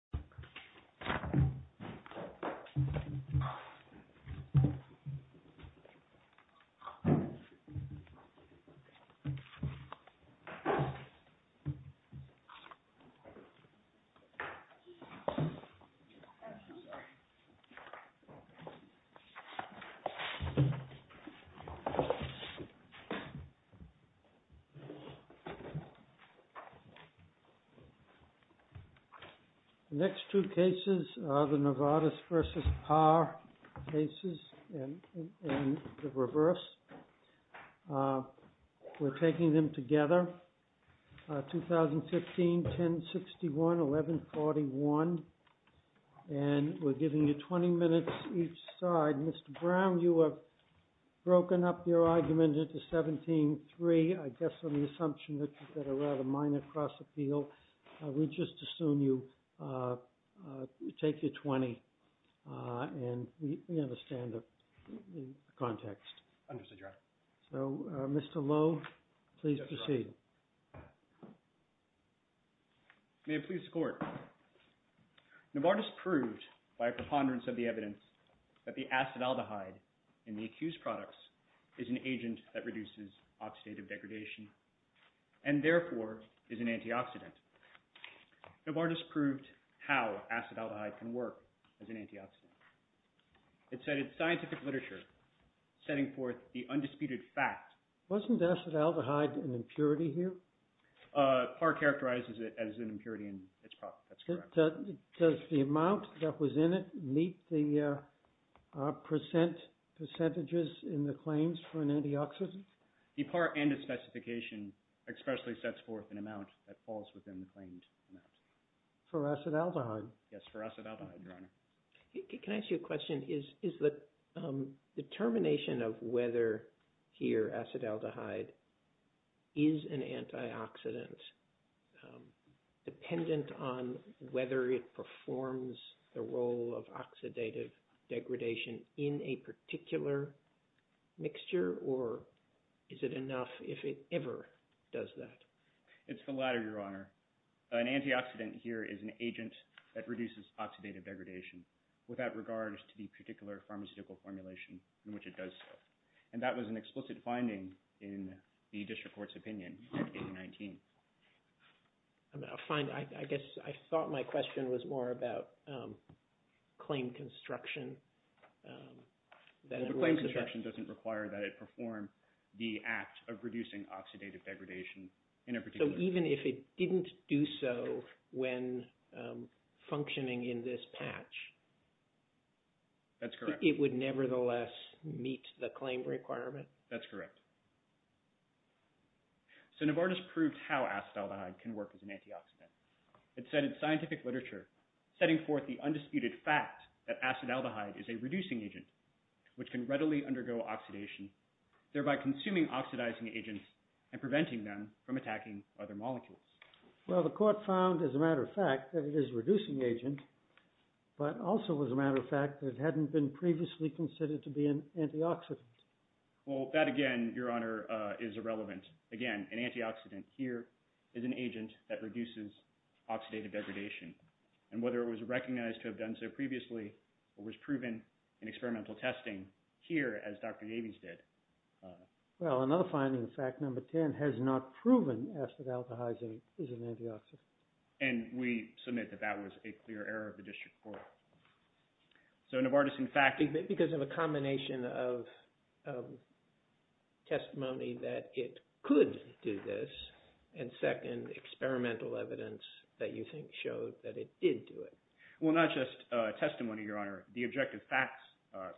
This video was recorded on September 20, 2021 at 4 p.m. The next two cases are the Novartis v. Par cases and the reverse. We're taking them together. 2015, 1061, 1141. And we're giving you 20 minutes each side. Mr. Brown, you have broken up your argument into 17-3. I guess on the assumption that you've got a rather minor cross-appeal, we just assume you take your 20. And we understand the context. Understood, Your Honor. So, Mr. Lowe, please proceed. May it please the Court. Novartis proved by a preponderance of the evidence that the acetaldehyde in the accused products is an agent that reduces oxidative degradation and, therefore, is an antioxidant. Novartis proved how acetaldehyde can work as an antioxidant. It said in scientific literature, setting forth the undisputed fact… Wasn't acetaldehyde an impurity here? Par characterizes it as an impurity in its product. Does the amount that was in it meet the percentages in the claims for an antioxidant? The par and its specification expressly sets forth an amount that falls within the claimed amount. For acetaldehyde? Yes, for acetaldehyde, Your Honor. Can I ask you a question? Is the determination of whether here acetaldehyde is an antioxidant dependent on whether it performs the role of oxidative degradation in a particular mixture? Or is it enough if it ever does that? An antioxidant here is an agent that reduces oxidative degradation without regard to the particular pharmaceutical formulation in which it does so. And that was an explicit finding in the district court's opinion in 2019. I guess I thought my question was more about claim construction. The claim construction doesn't require that it perform the act of reducing oxidative degradation in a particular… So even if it didn't do so when functioning in this patch… That's correct. It would nevertheless meet the claim requirement? That's correct. So Novartis proved how acetaldehyde can work as an antioxidant. It said in scientific literature, setting forth the undisputed fact that acetaldehyde is a reducing agent, which can readily undergo oxidation, thereby consuming oxidizing agents and preventing them from attacking other molecules. Well, the court found, as a matter of fact, that it is a reducing agent, but also, as a matter of fact, that it hadn't been previously considered to be an antioxidant. Well, that again, Your Honor, is irrelevant. Again, an antioxidant here is an agent that reduces oxidative degradation. And whether it was recognized to have done so previously or was proven in experimental testing here, as Dr. Davies did… Well, another finding, fact number 10, has not proven acetaldehyde is an antioxidant. And we submit that that was a clear error of the district court. So Novartis, in fact… Because of a combination of testimony that it could do this, and second, experimental evidence that you think showed that it did do it. Well, not just testimony, Your Honor. The objective facts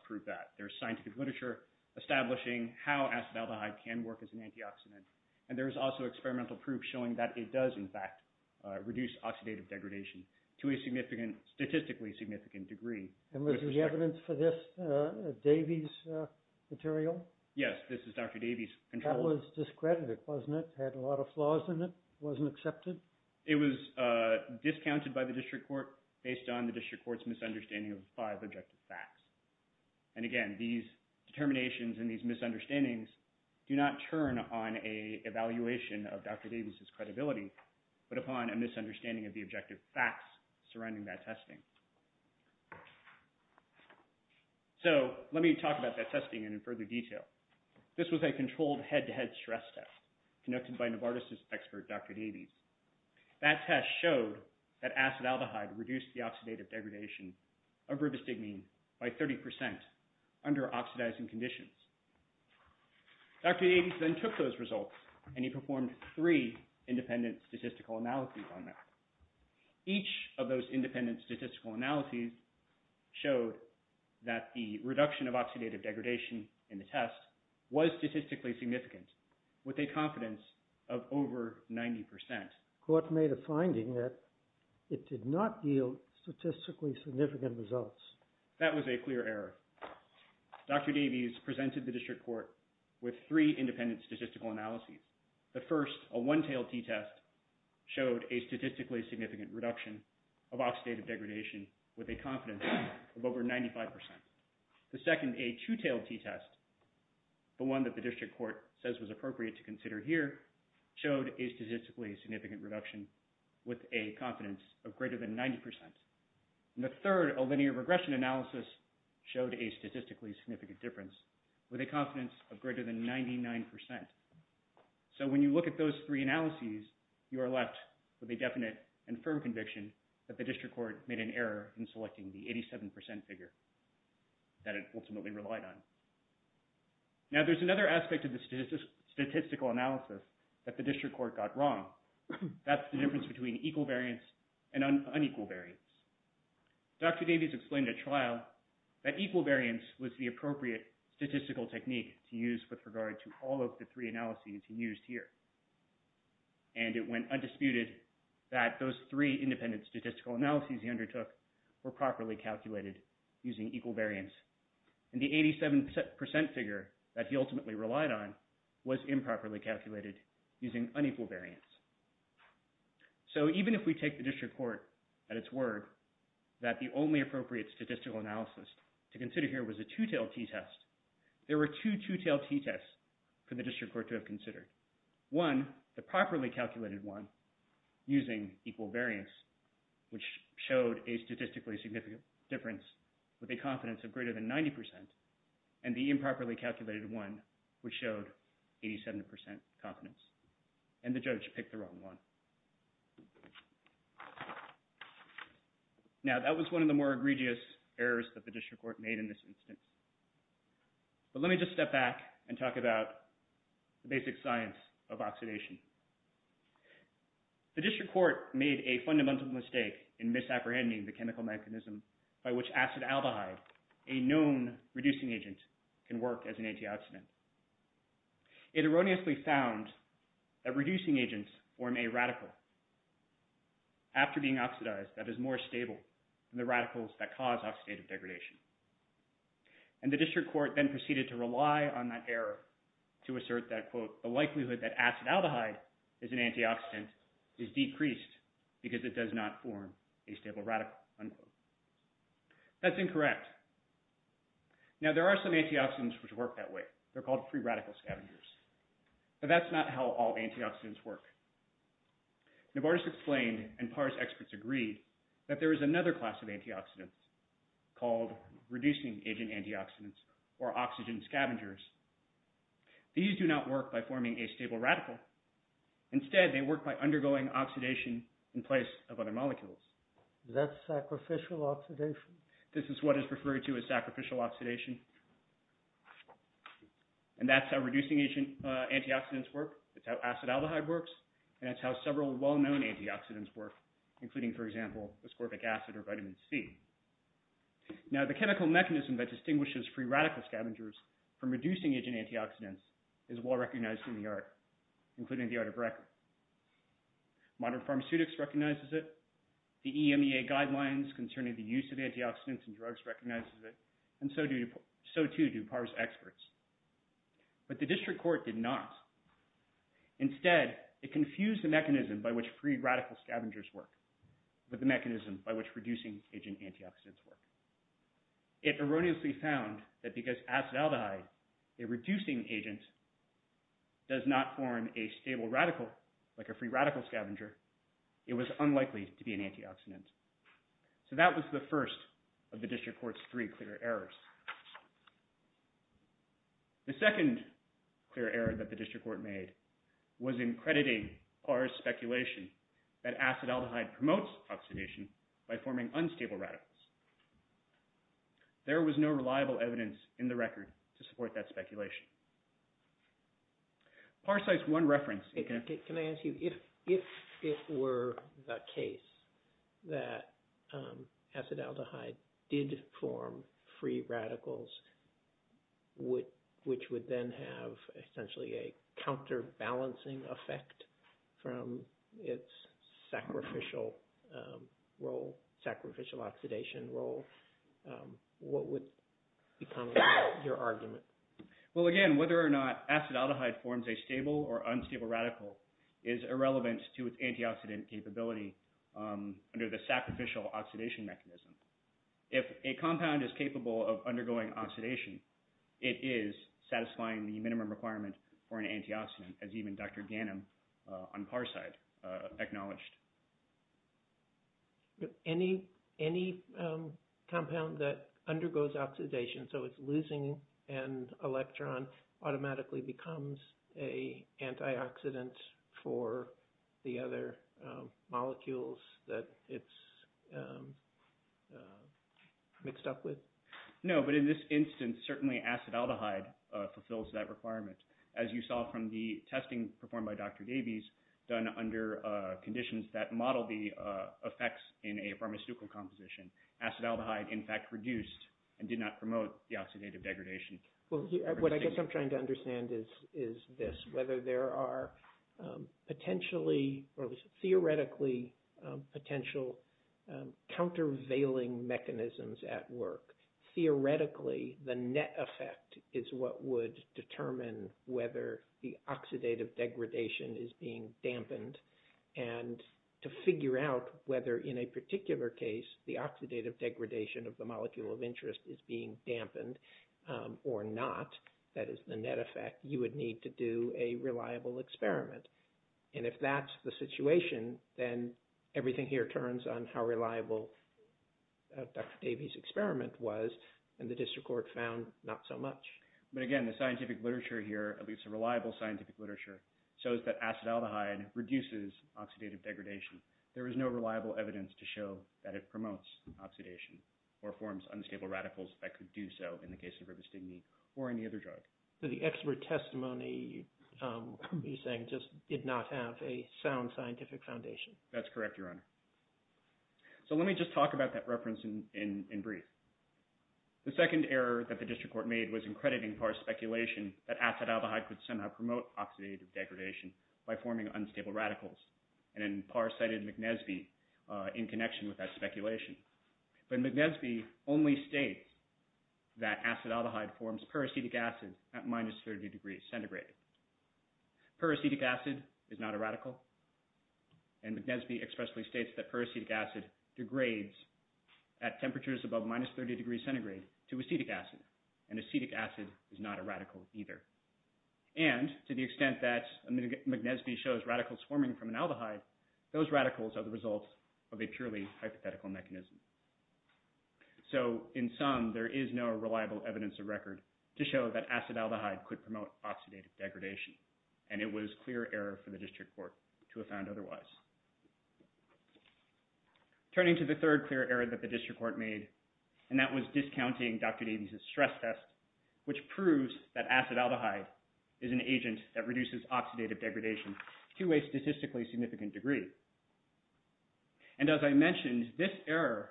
prove that. There's scientific literature establishing how acetaldehyde can work as an antioxidant. And there's also experimental proof showing that it does, in fact, reduce oxidative degradation to a statistically significant degree. And was the evidence for this Davies material? Yes, this is Dr. Davies' control. That was discredited, wasn't it? It had a lot of flaws in it. It wasn't accepted. It was discounted by the district court based on the district court's misunderstanding of the five objective facts. And again, these determinations and these misunderstandings do not turn on an evaluation of Dr. Davies' credibility, but upon a misunderstanding of the objective facts surrounding that testing. So, let me talk about that testing in further detail. This was a controlled head-to-head stress test conducted by Novartis' expert, Dr. Davies. That test showed that acetaldehyde reduced the oxidative degradation of ribostigmine by 30% under oxidizing conditions. Dr. Davies then took those results, and he performed three independent statistical analyses on that. Each of those independent statistical analyses showed that the reduction of oxidative degradation in the test was statistically significant with a confidence of over 90%. The court made a finding that it did not yield statistically significant results. That was a clear error. Dr. Davies presented the district court with three independent statistical analyses. The first, a one-tailed t-test, showed a statistically significant reduction of oxidative degradation with a confidence of over 95%. The second, a two-tailed t-test, the one that the district court says was appropriate to consider here, showed a statistically significant reduction with a confidence of greater than 90%. And the third, a linear regression analysis, showed a statistically significant difference with a confidence of greater than 99%. So when you look at those three analyses, you are left with a definite and firm conviction that the district court made an error in selecting the 87% figure that it ultimately relied on. Now there's another aspect of the statistical analysis that the district court got wrong. That's the difference between equal variance and unequal variance. Dr. Davies explained at trial that equal variance was the appropriate statistical technique to use with regard to all of the three analyses he used here. And it went undisputed that those three independent statistical analyses he undertook were properly calculated using equal variance. And the 87% figure that he ultimately relied on was improperly calculated using unequal variance. So even if we take the district court at its word that the only appropriate statistical analysis to consider here was a two-tailed t-test, there were two two-tailed t-tests for the district court to have considered. One, the properly calculated one using equal variance, which showed a statistically significant difference with a confidence of greater than 90%, and the improperly calculated one, which showed 87% confidence. And the judge picked the wrong one. Now that was one of the more egregious errors that the district court made in this instance. But let me just step back and talk about the basic science of oxidation. The district court made a fundamental mistake in misapprehending the chemical mechanism by which acid albehye, a known reducing agent, can work as an antioxidant. It erroneously found that reducing agents form a radical after being oxidized that is more stable than the radicals that cause oxidative degradation. And the district court then proceeded to rely on that error to assert that, quote, the likelihood that acid aldehyde is an antioxidant is decreased because it does not form a stable radical, unquote. That's incorrect. Now there are some antioxidants which work that way. They're called free radical scavengers. But that's not how all antioxidants work. Novartis explained, and PARS experts agreed, that there is another class of antioxidants called reducing agent antioxidants or oxygen scavengers. These do not work by forming a stable radical. Instead, they work by undergoing oxidation in place of other molecules. Is that sacrificial oxidation? This is what is referred to as sacrificial oxidation. And that's how reducing agent antioxidants work. That's how acid aldehyde works. And that's how several well-known antioxidants work, including, for example, ascorbic acid or vitamin C. Now the chemical mechanism that distinguishes free radical scavengers from reducing agent antioxidants is well recognized in the art, including the art of record. Modern pharmaceutics recognizes it. The EMEA guidelines concerning the use of antioxidants and drugs recognizes it. And so too do PARS experts. But the district court did not. Instead, it confused the mechanism by which free radical scavengers work with the mechanism by which reducing agent antioxidants work. It erroneously found that because acid aldehyde, a reducing agent, does not form a stable radical like a free radical scavenger, it was unlikely to be an antioxidant. So that was the first of the district court's three clear errors. The second clear error that the district court made was in crediting PARS' speculation that acid aldehyde promotes oxidation by forming unstable radicals. There was no reliable evidence in the record to support that speculation. PARSite's one reference. Can I ask you, if it were the case that acid aldehyde did form free radicals, which would then have essentially a counterbalancing effect from its sacrificial role, sacrificial oxidation role, what would become your argument? Well, again, whether or not acid aldehyde forms a stable or unstable radical is irrelevant to its antioxidant capability under the sacrificial oxidation mechanism. If a compound is capable of undergoing oxidation, it is satisfying the minimum requirement for an antioxidant, as even Dr. Ganim on PARSite acknowledged. Any compound that undergoes oxidation, so it's losing an electron, automatically becomes a antioxidant for the other molecules that it's mixed up with? No, but in this instance, certainly acid aldehyde fulfills that requirement. As you saw from the testing performed by Dr. Davies, done under conditions that model the effects in a pharmaceutical composition, acid aldehyde, in fact, reduced and did not promote the oxidative degradation. What I guess I'm trying to understand is this, whether there are theoretically potential countervailing mechanisms at work. Theoretically, the net effect is what would determine whether the oxidative degradation is being dampened. And to figure out whether in a particular case the oxidative degradation of the molecule of interest is being dampened or not, that is the net effect, you would need to do a reliable experiment. And if that's the situation, then everything here turns on how reliable Dr. Davies' experiment was, and the district court found not so much. But again, the scientific literature here, at least the reliable scientific literature, shows that acid aldehyde reduces oxidative degradation. There is no reliable evidence to show that it promotes oxidation or forms unstable radicals that could do so in the case of ribostigmine or any other drug. So the expert testimony you're saying just did not have a sound scientific foundation. That's correct, Your Honor. So let me just talk about that reference in brief. The second error that the district court made was in crediting Parr's speculation that acid aldehyde could somehow promote oxidative degradation by forming unstable radicals. And then Parr cited McNesby in connection with that speculation. But McNesby only states that acid aldehyde forms peracetic acid at minus 30 degrees centigrade. Peracetic acid is not a radical, and McNesby expressly states that peracetic acid degrades at temperatures above minus 30 degrees centigrade to acetic acid, and acetic acid is not a radical either. And to the extent that McNesby shows radicals forming from an aldehyde, those radicals are the result of a purely hypothetical mechanism. So in sum, there is no reliable evidence of record to show that acid aldehyde could promote oxidative degradation, and it was clear error for the district court to have found otherwise. Turning to the third clear error that the district court made, and that was discounting Dr. Davies' stress test, which proves that acid aldehyde is an agent that reduces oxidative degradation to a statistically significant degree. And as I mentioned, this error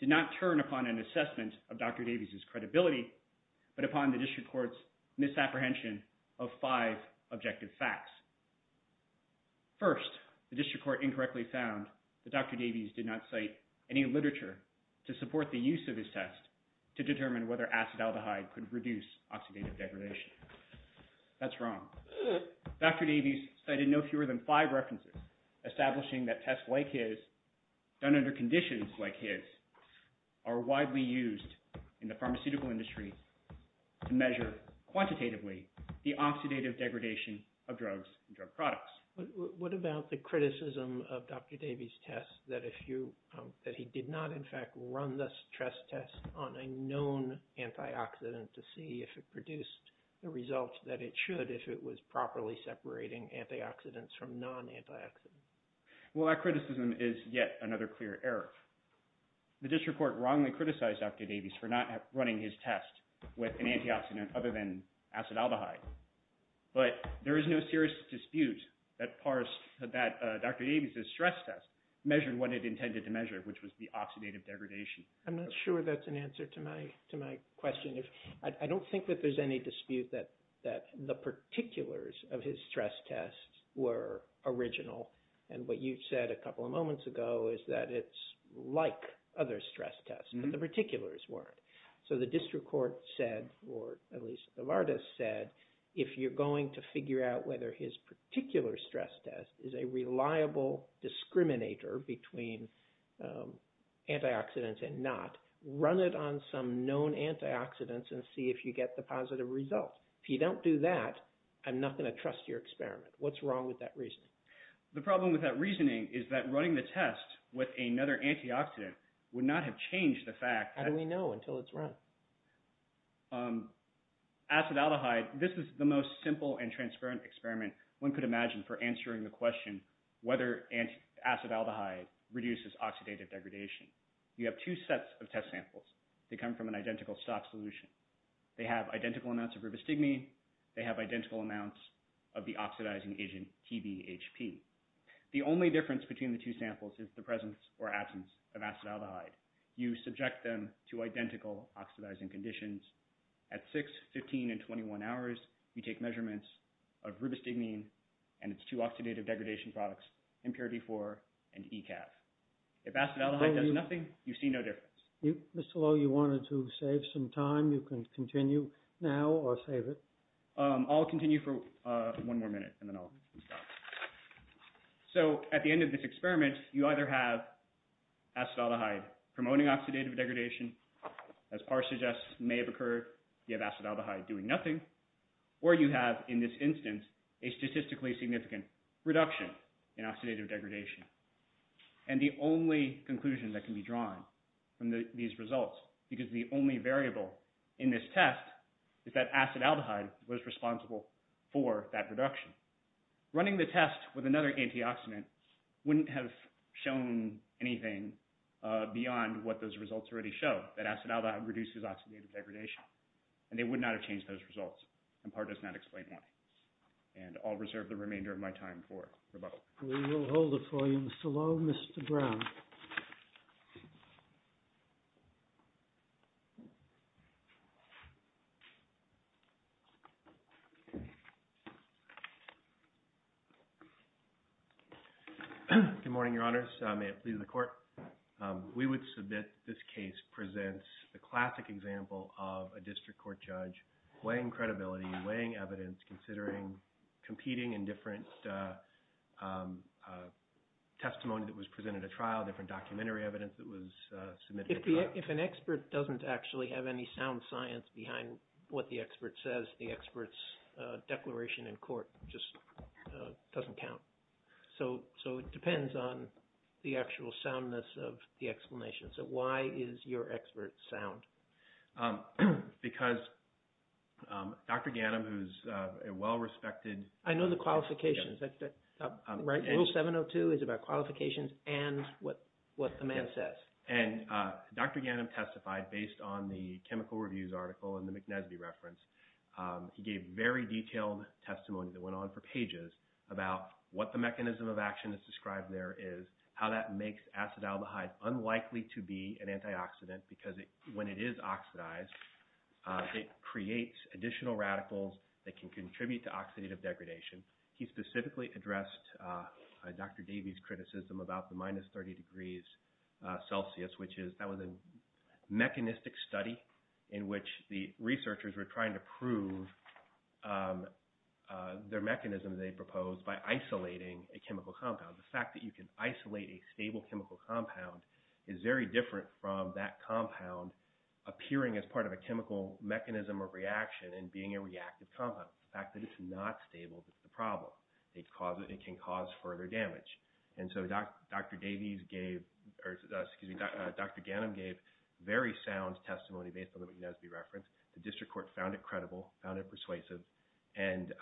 did not turn upon an assessment of Dr. Davies' credibility, but upon the district court's misapprehension of five objective facts. First, the district court incorrectly found that Dr. Davies did not cite any literature to support the use of his test to determine whether acid aldehyde could reduce oxidative degradation. That's wrong. Dr. Davies cited no fewer than five references establishing that tests like his, done under conditions like his, are widely used in the pharmaceutical industry to measure quantitatively the oxidative degradation of drugs and drug products. What about the criticism of Dr. Davies' test that he did not, in fact, run the stress test on a known antioxidant to see if it produced the results that it should if it was properly separating antioxidants from non-antioxidants? Well, that criticism is yet another clear error. The district court wrongly criticized Dr. Davies for not running his test with an antioxidant other than acid aldehyde, but there is no serious dispute that Dr. Davies' stress test measured what it intended to measure, which was the oxidative degradation. I'm not sure that's an answer to my question. I don't think that there's any dispute that the particulars of his stress test were original, and what you said a couple of moments ago is that it's like other stress tests, but the particulars weren't. So the district court said, or at least the LARDIS said, if you're going to figure out whether his particular stress test is a reliable discriminator between antioxidants and not, run it on some known antioxidants and see if you get the positive results. If you don't do that, I'm not going to trust your experiment. What's wrong with that reasoning? The problem with that reasoning is that running the test with another antioxidant would not have changed the fact that— How do we know until it's run? Acid aldehyde, this is the most simple and transparent experiment one could imagine for answering the question whether acid aldehyde reduces oxidative degradation. You have two sets of test samples. They come from an identical stock solution. They have identical amounts of ribostigmine. They have identical amounts of the oxidizing agent TBHP. The only difference between the two samples is the presence or absence of acid aldehyde. You subject them to identical oxidizing conditions. At 6, 15, and 21 hours, you take measurements of ribostigmine and its two oxidative degradation products, Impurity-4 and ECAV. If acid aldehyde does nothing, you see no difference. Mr. Lowe, you wanted to save some time. You can continue now or save it. I'll continue for one more minute and then I'll stop. At the end of this experiment, you either have acid aldehyde promoting oxidative degradation, as Parr suggests, may have occurred. You have acid aldehyde doing nothing. Or you have, in this instance, a statistically significant reduction in oxidative degradation. The only conclusion that can be drawn from these results, because the only variable in this test, is that acid aldehyde was responsible for that reduction. Running the test with another antioxidant wouldn't have shown anything beyond what those results already show, that acid aldehyde reduces oxidative degradation. And they would not have changed those results, and Parr does not explain why. And I'll reserve the remainder of my time for rebuttal. We will hold it for you. Mr. Lowe, Mr. Brown. Good morning, Your Honors. May it please the Court. We would submit this case presents the classic example of a district court judge weighing credibility, weighing evidence, considering competing in different testimony that was presented at trial, different documentary evidence that was submitted. If an expert doesn't actually have any sound science behind what the expert says, the expert's declaration in court just doesn't count. So it depends on the actual soundness of the explanation. So why is your expert sound? Because Dr. Ghanem, who's a well-respected… I know the qualifications. Rule 702 is about qualifications and what the man says. And Dr. Ghanem testified based on the chemical reviews article and the McNesby reference. He gave very detailed testimony that went on for pages about what the mechanism of action is described there is, how that makes acid aldehyde unlikely to be an antioxidant because when it is oxidized, it creates additional radicals that can contribute to oxidative degradation. He specifically addressed Dr. Davies' criticism about the minus 30 degrees Celsius, which is that was a mechanistic study in which the researchers were trying to prove their mechanism they proposed by isolating a chemical compound. The fact that you can isolate a stable chemical compound is very different from that compound appearing as part of a chemical mechanism or reaction and being a reactive compound. The fact that it's not stable is the problem. It can cause further damage. And so Dr. Davies gave – or excuse me, Dr. Ghanem gave very sound testimony based on the McNesby reference. The district court found it credible, found it persuasive, and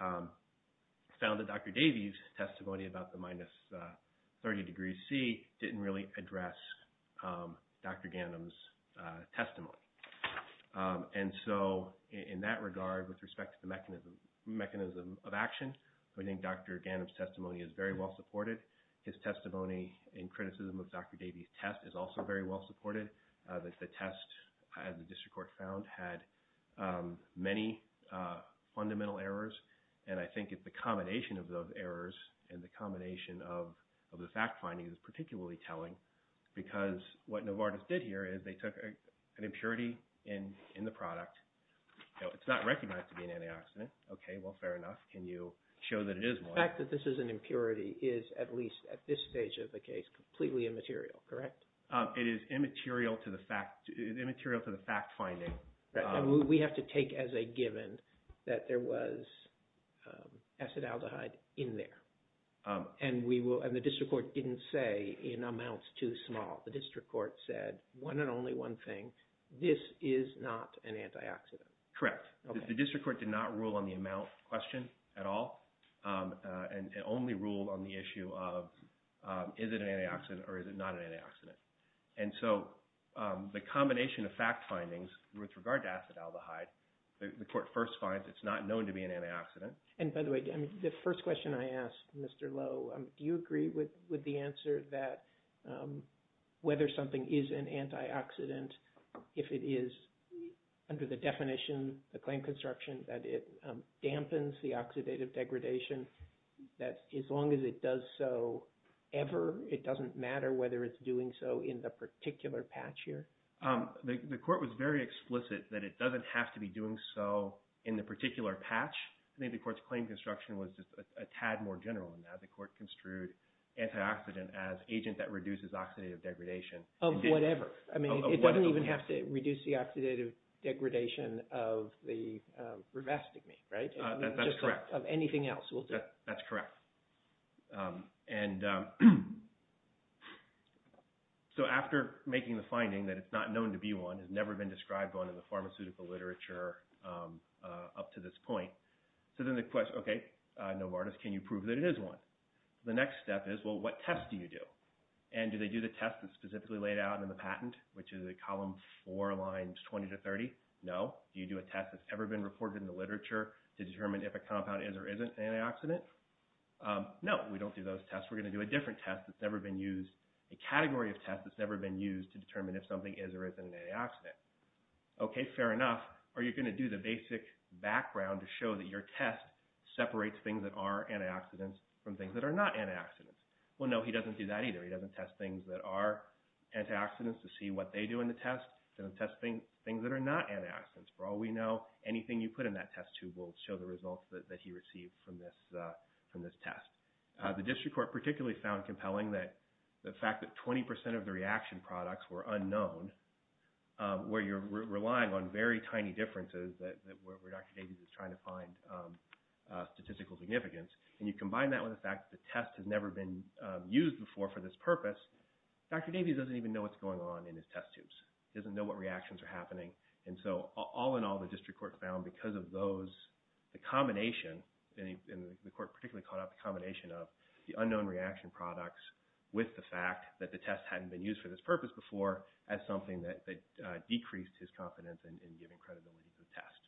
found that Dr. Davies' testimony about the minus 30 degrees C didn't really address Dr. Ghanem's testimony. And so in that regard, with respect to the mechanism of action, I think Dr. Ghanem's testimony is very well supported. His testimony in criticism of Dr. Davies' test is also very well supported. The test, as the district court found, had many fundamental errors, and I think it's the combination of those errors and the combination of the fact findings is particularly telling because what Novartis did here is they took an impurity in the product. It's not recognized to be an antioxidant. Okay, well, fair enough. Can you show that it is one? The fact that this is an impurity is, at least at this stage of the case, completely immaterial, correct? It is immaterial to the fact finding. We have to take as a given that there was acetaldehyde in there. And the district court didn't say in amounts too small. The district court said one and only one thing, this is not an antioxidant. Correct. The district court did not rule on the amount question at all. It only ruled on the issue of is it an antioxidant or is it not an antioxidant. And so the combination of fact findings with regard to acetaldehyde, the court first finds it's not known to be an antioxidant. And by the way, the first question I asked, Mr. Lowe, do you agree with the answer that whether something is an antioxidant, if it is under the definition, the claim construction, that it dampens the oxidative degradation, that as long as it does so ever, it doesn't matter whether it's doing so in the particular patch here? The court was very explicit that it doesn't have to be doing so in the particular patch. I think the court's claim construction was just a tad more general than that. The court construed antioxidant as agent that reduces oxidative degradation. Of whatever. I mean, it doesn't even have to reduce the oxidative degradation of the rivastigmine, right? That's correct. Of anything else, will do. That's correct. And so after making the finding that it's not known to be one, has never been described one in the pharmaceutical literature up to this point. So then the question, okay, Novartis, can you prove that it is one? The next step is, well, what test do you do? And do they do the test that's specifically laid out in the patent, which is the column four lines 20 to 30? No. Do you do a test that's ever been reported in the literature to determine if a compound is or isn't an antioxidant? No, we don't do those tests. We're going to do a different test that's never been used, a category of test that's never been used to determine if something is or isn't an antioxidant. Okay, fair enough. Are you going to do the basic background to show that your test separates things that are antioxidants from things that are not antioxidants? Well, no, he doesn't do that either. He doesn't test things that are antioxidants to see what they do in the test. He doesn't test things that are not antioxidants. For all we know, anything you put in that test tube will show the results that he received from this test. The district court particularly found compelling the fact that 20 percent of the reaction products were unknown, where you're relying on very tiny differences where Dr. Davies is trying to find statistical significance. And you combine that with the fact that the test has never been used before for this purpose, Dr. Davies doesn't even know what's going on in his test tubes. He doesn't know what reactions are happening. And so all in all, the district court found because of those, the combination, and the court particularly called out the combination of the unknown reaction products with the fact that the test hadn't been used for this purpose before, as something that decreased his confidence in giving credibility to the test.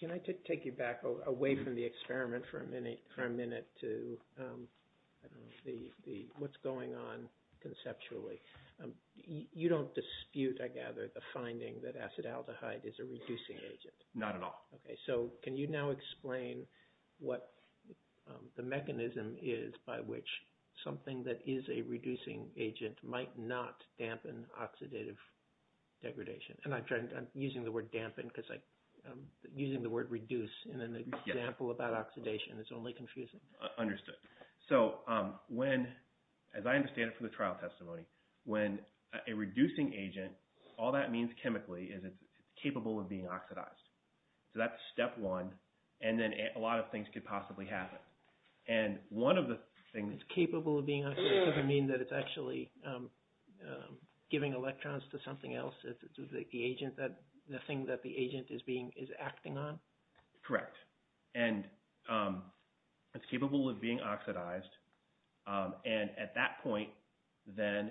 Can I take you back away from the experiment for a minute to what's going on conceptually? You don't dispute, I gather, the finding that acetaldehyde is a reducing agent? Not at all. Okay, so can you now explain what the mechanism is by which something that is a reducing agent might not dampen oxidative degradation? And I'm using the word dampen because using the word reduce in an example about oxidation is only confusing. Understood. So when, as I understand it from the trial testimony, when a reducing agent, all that means chemically is it's capable of being oxidized. So that's step one, and then a lot of things could possibly happen. And one of the things... It's capable of being oxidized doesn't mean that it's actually giving electrons to something else, to the agent, the thing that the agent is acting on? Correct. Correct. And it's capable of being oxidized, and at that point, then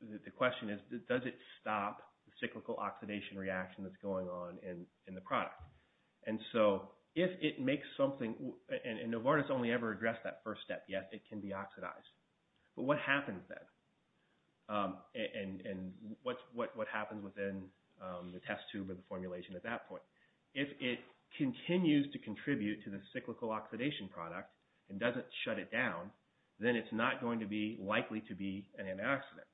the question is, does it stop the cyclical oxidation reaction that's going on in the product? And so if it makes something, and Novartis only ever addressed that first step, yes, it can be oxidized. But what happens then? And what happens within the test tube and the formulation at that point? If it continues to contribute to the cyclical oxidation product and doesn't shut it down, then it's not going to be likely to be an antioxidant.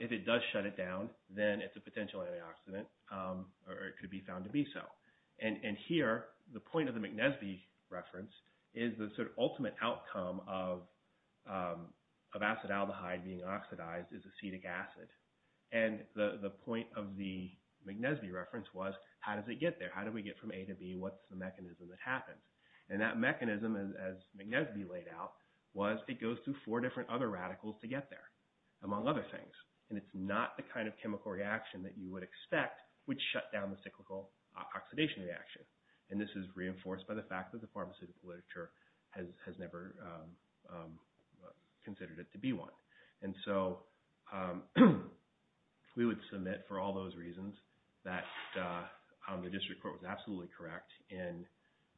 If it does shut it down, then it's a potential antioxidant, or it could be found to be so. And here, the point of the McNesby reference is the sort of ultimate outcome of acetaldehyde being oxidized is acetic acid. And the point of the McNesby reference was, how does it get there? How do we get from A to B? What's the mechanism that happens? And that mechanism, as McNesby laid out, was it goes through four different other radicals to get there, among other things. And it's not the kind of chemical reaction that you would expect would shut down the cyclical oxidation reaction. And this is reinforced by the fact that the pharmaceutical literature has never considered it to be one. And so we would submit, for all those reasons, that the district court was absolutely correct in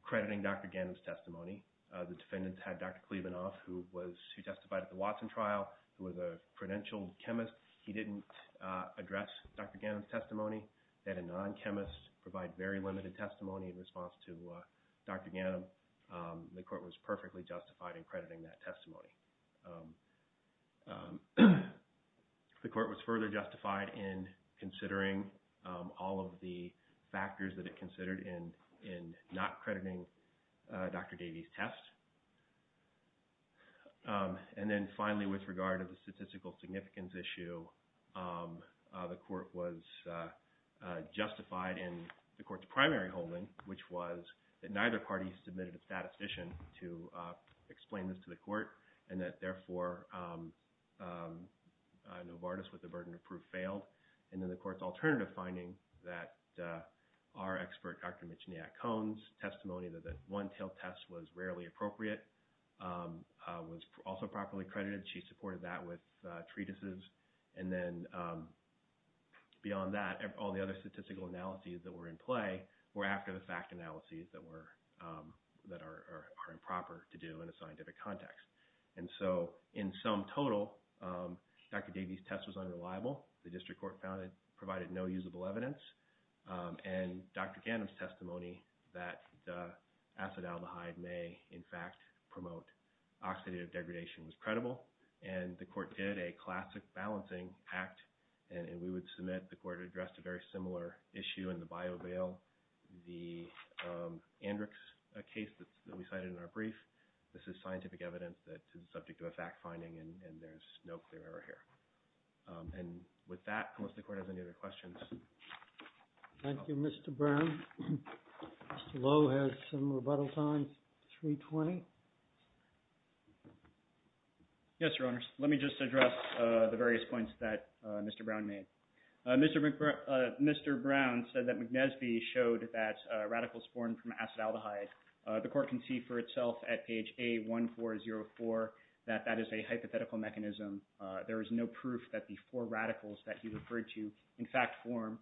crediting Dr. Gannon's testimony. The defendants had Dr. Klebanoff, who testified at the Watson trial, who was a credentialed chemist. He didn't address Dr. Gannon's testimony. They had a non-chemist provide very limited testimony in response to Dr. Gannon. The court was perfectly justified in crediting that testimony. The court was further justified in considering all of the factors that it considered in not crediting Dr. Davies' test. And then finally, with regard to the statistical significance issue, the court was justified in the court's primary holding, which was that neither party submitted a statistician to explain this to the court and that, therefore, Novartis, with the burden of proof, failed. And then the court's alternative finding that our expert, Dr. Michigny-Atkone's testimony that the one-tailed test was rarely appropriate was also properly credited. She supported that with treatises. And then beyond that, all the other statistical analyses that were in play were after the fact analyses that are improper to do in a scientific context. And so in sum total, Dr. Davies' test was unreliable. The district court provided no usable evidence. And Dr. Gannon's testimony that acid aldehyde may, in fact, promote oxidative degradation was credible. And the court did a classic balancing act. And we would submit, the court addressed a very similar issue in the bio bail, the Andrix case that we cited in our brief. This is scientific evidence that is subject to a fact finding, and there's no clear error here. And with that, unless the court has any other questions. Thank you, Mr. Brown. Mr. Lowe has some rebuttal time, 3.20. Yes, Your Honors. Let me just address the various points that Mr. Brown made. Mr. Brown said that McNesby showed that radicals formed from acid aldehyde. The court can see for itself at page A1404 that that is a hypothetical mechanism. There is no proof that the four radicals that he referred to, in fact, form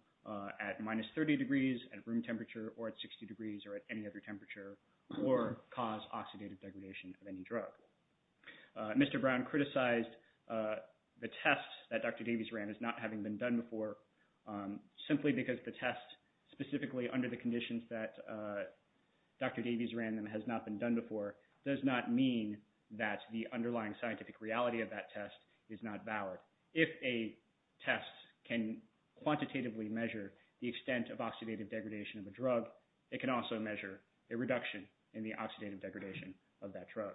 at minus 30 degrees at room temperature or at 60 degrees or at any other temperature or cause oxidative degradation of any drug. Mr. Brown criticized the test that Dr. Davies ran as not having been done before, simply because the test, specifically under the conditions that Dr. Davies ran and has not been done before, does not mean that the underlying scientific reality of that test is not valid. If a test can quantitatively measure the extent of oxidative degradation of a drug, it can also measure a reduction in the oxidative degradation of that drug.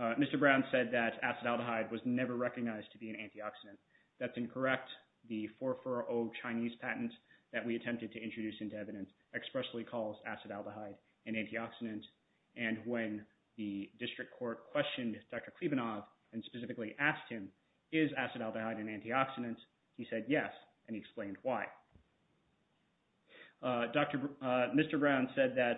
Mr. Brown said that acid aldehyde was never recognized to be an antioxidant. That's incorrect. In fact, the 4-4-0 Chinese patent that we attempted to introduce into evidence expressly calls acid aldehyde an antioxidant. And when the district court questioned Dr. Klebanov and specifically asked him, is acid aldehyde an antioxidant, he said yes, and he explained why. Mr. Brown said that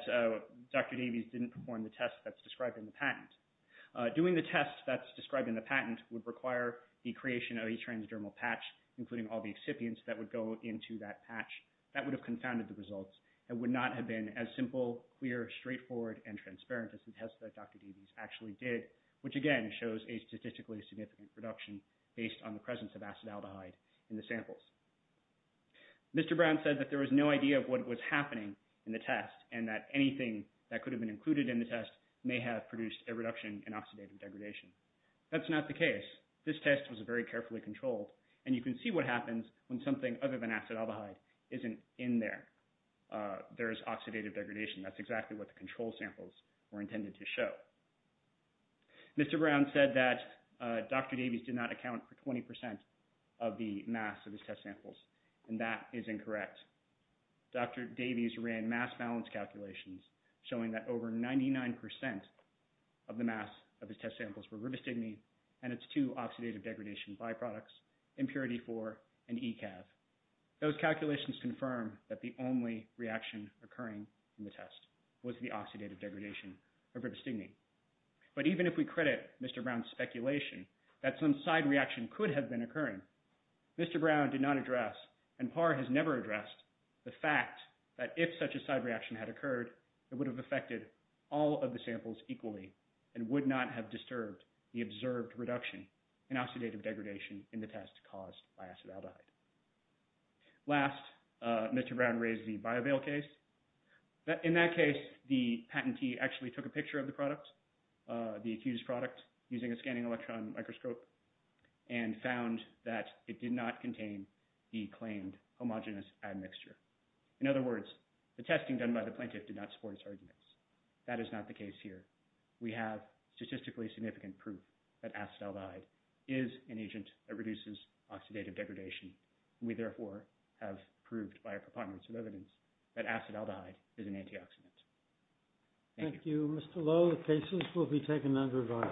Dr. Davies didn't perform the test that's described in the patent. Doing the test that's described in the patent would require the creation of a transdermal patch, including all the excipients that would go into that patch. That would have confounded the results and would not have been as simple, clear, straightforward, and transparent as the test that Dr. Davies actually did, which, again, shows a statistically significant reduction based on the presence of acid aldehyde in the samples. Mr. Brown said that there was no idea of what was happening in the test and that anything that could have been included in the test may have produced a reduction in oxidative degradation. That's not the case. This test was very carefully controlled, and you can see what happens when something other than acid aldehyde isn't in there. There is oxidative degradation. That's exactly what the control samples were intended to show. Mr. Brown said that Dr. Davies did not account for 20% of the mass of his test samples, and that is incorrect. Dr. Davies ran mass balance calculations showing that over 99% of the mass of his test samples were ribostigmine and its two oxidative degradation byproducts, Impurity-4 and ECAV. Those calculations confirm that the only reaction occurring in the test was the oxidative degradation of ribostigmine. But even if we credit Mr. Brown's speculation that some side reaction could have been occurring, Mr. Brown did not address and PAR has never addressed the fact that if such a side reaction had occurred, it would have affected all of the samples equally and would not have disturbed the observed reduction in oxidative degradation in the test caused by acid aldehyde. Last, Mr. Brown raised the BioVail case. In that case, the patentee actually took a picture of the product, the accused product, using a scanning electron microscope and found that it did not contain the claimed homogenous admixture. In other words, the testing done by the plaintiff did not support his arguments. That is not the case here. We have statistically significant proof that acid aldehyde is an agent that reduces oxidative degradation. We, therefore, have proved by a preponderance of evidence that acid aldehyde is an antioxidant. Thank you. Thank you. Mr. Lowe, the cases will be taken under review.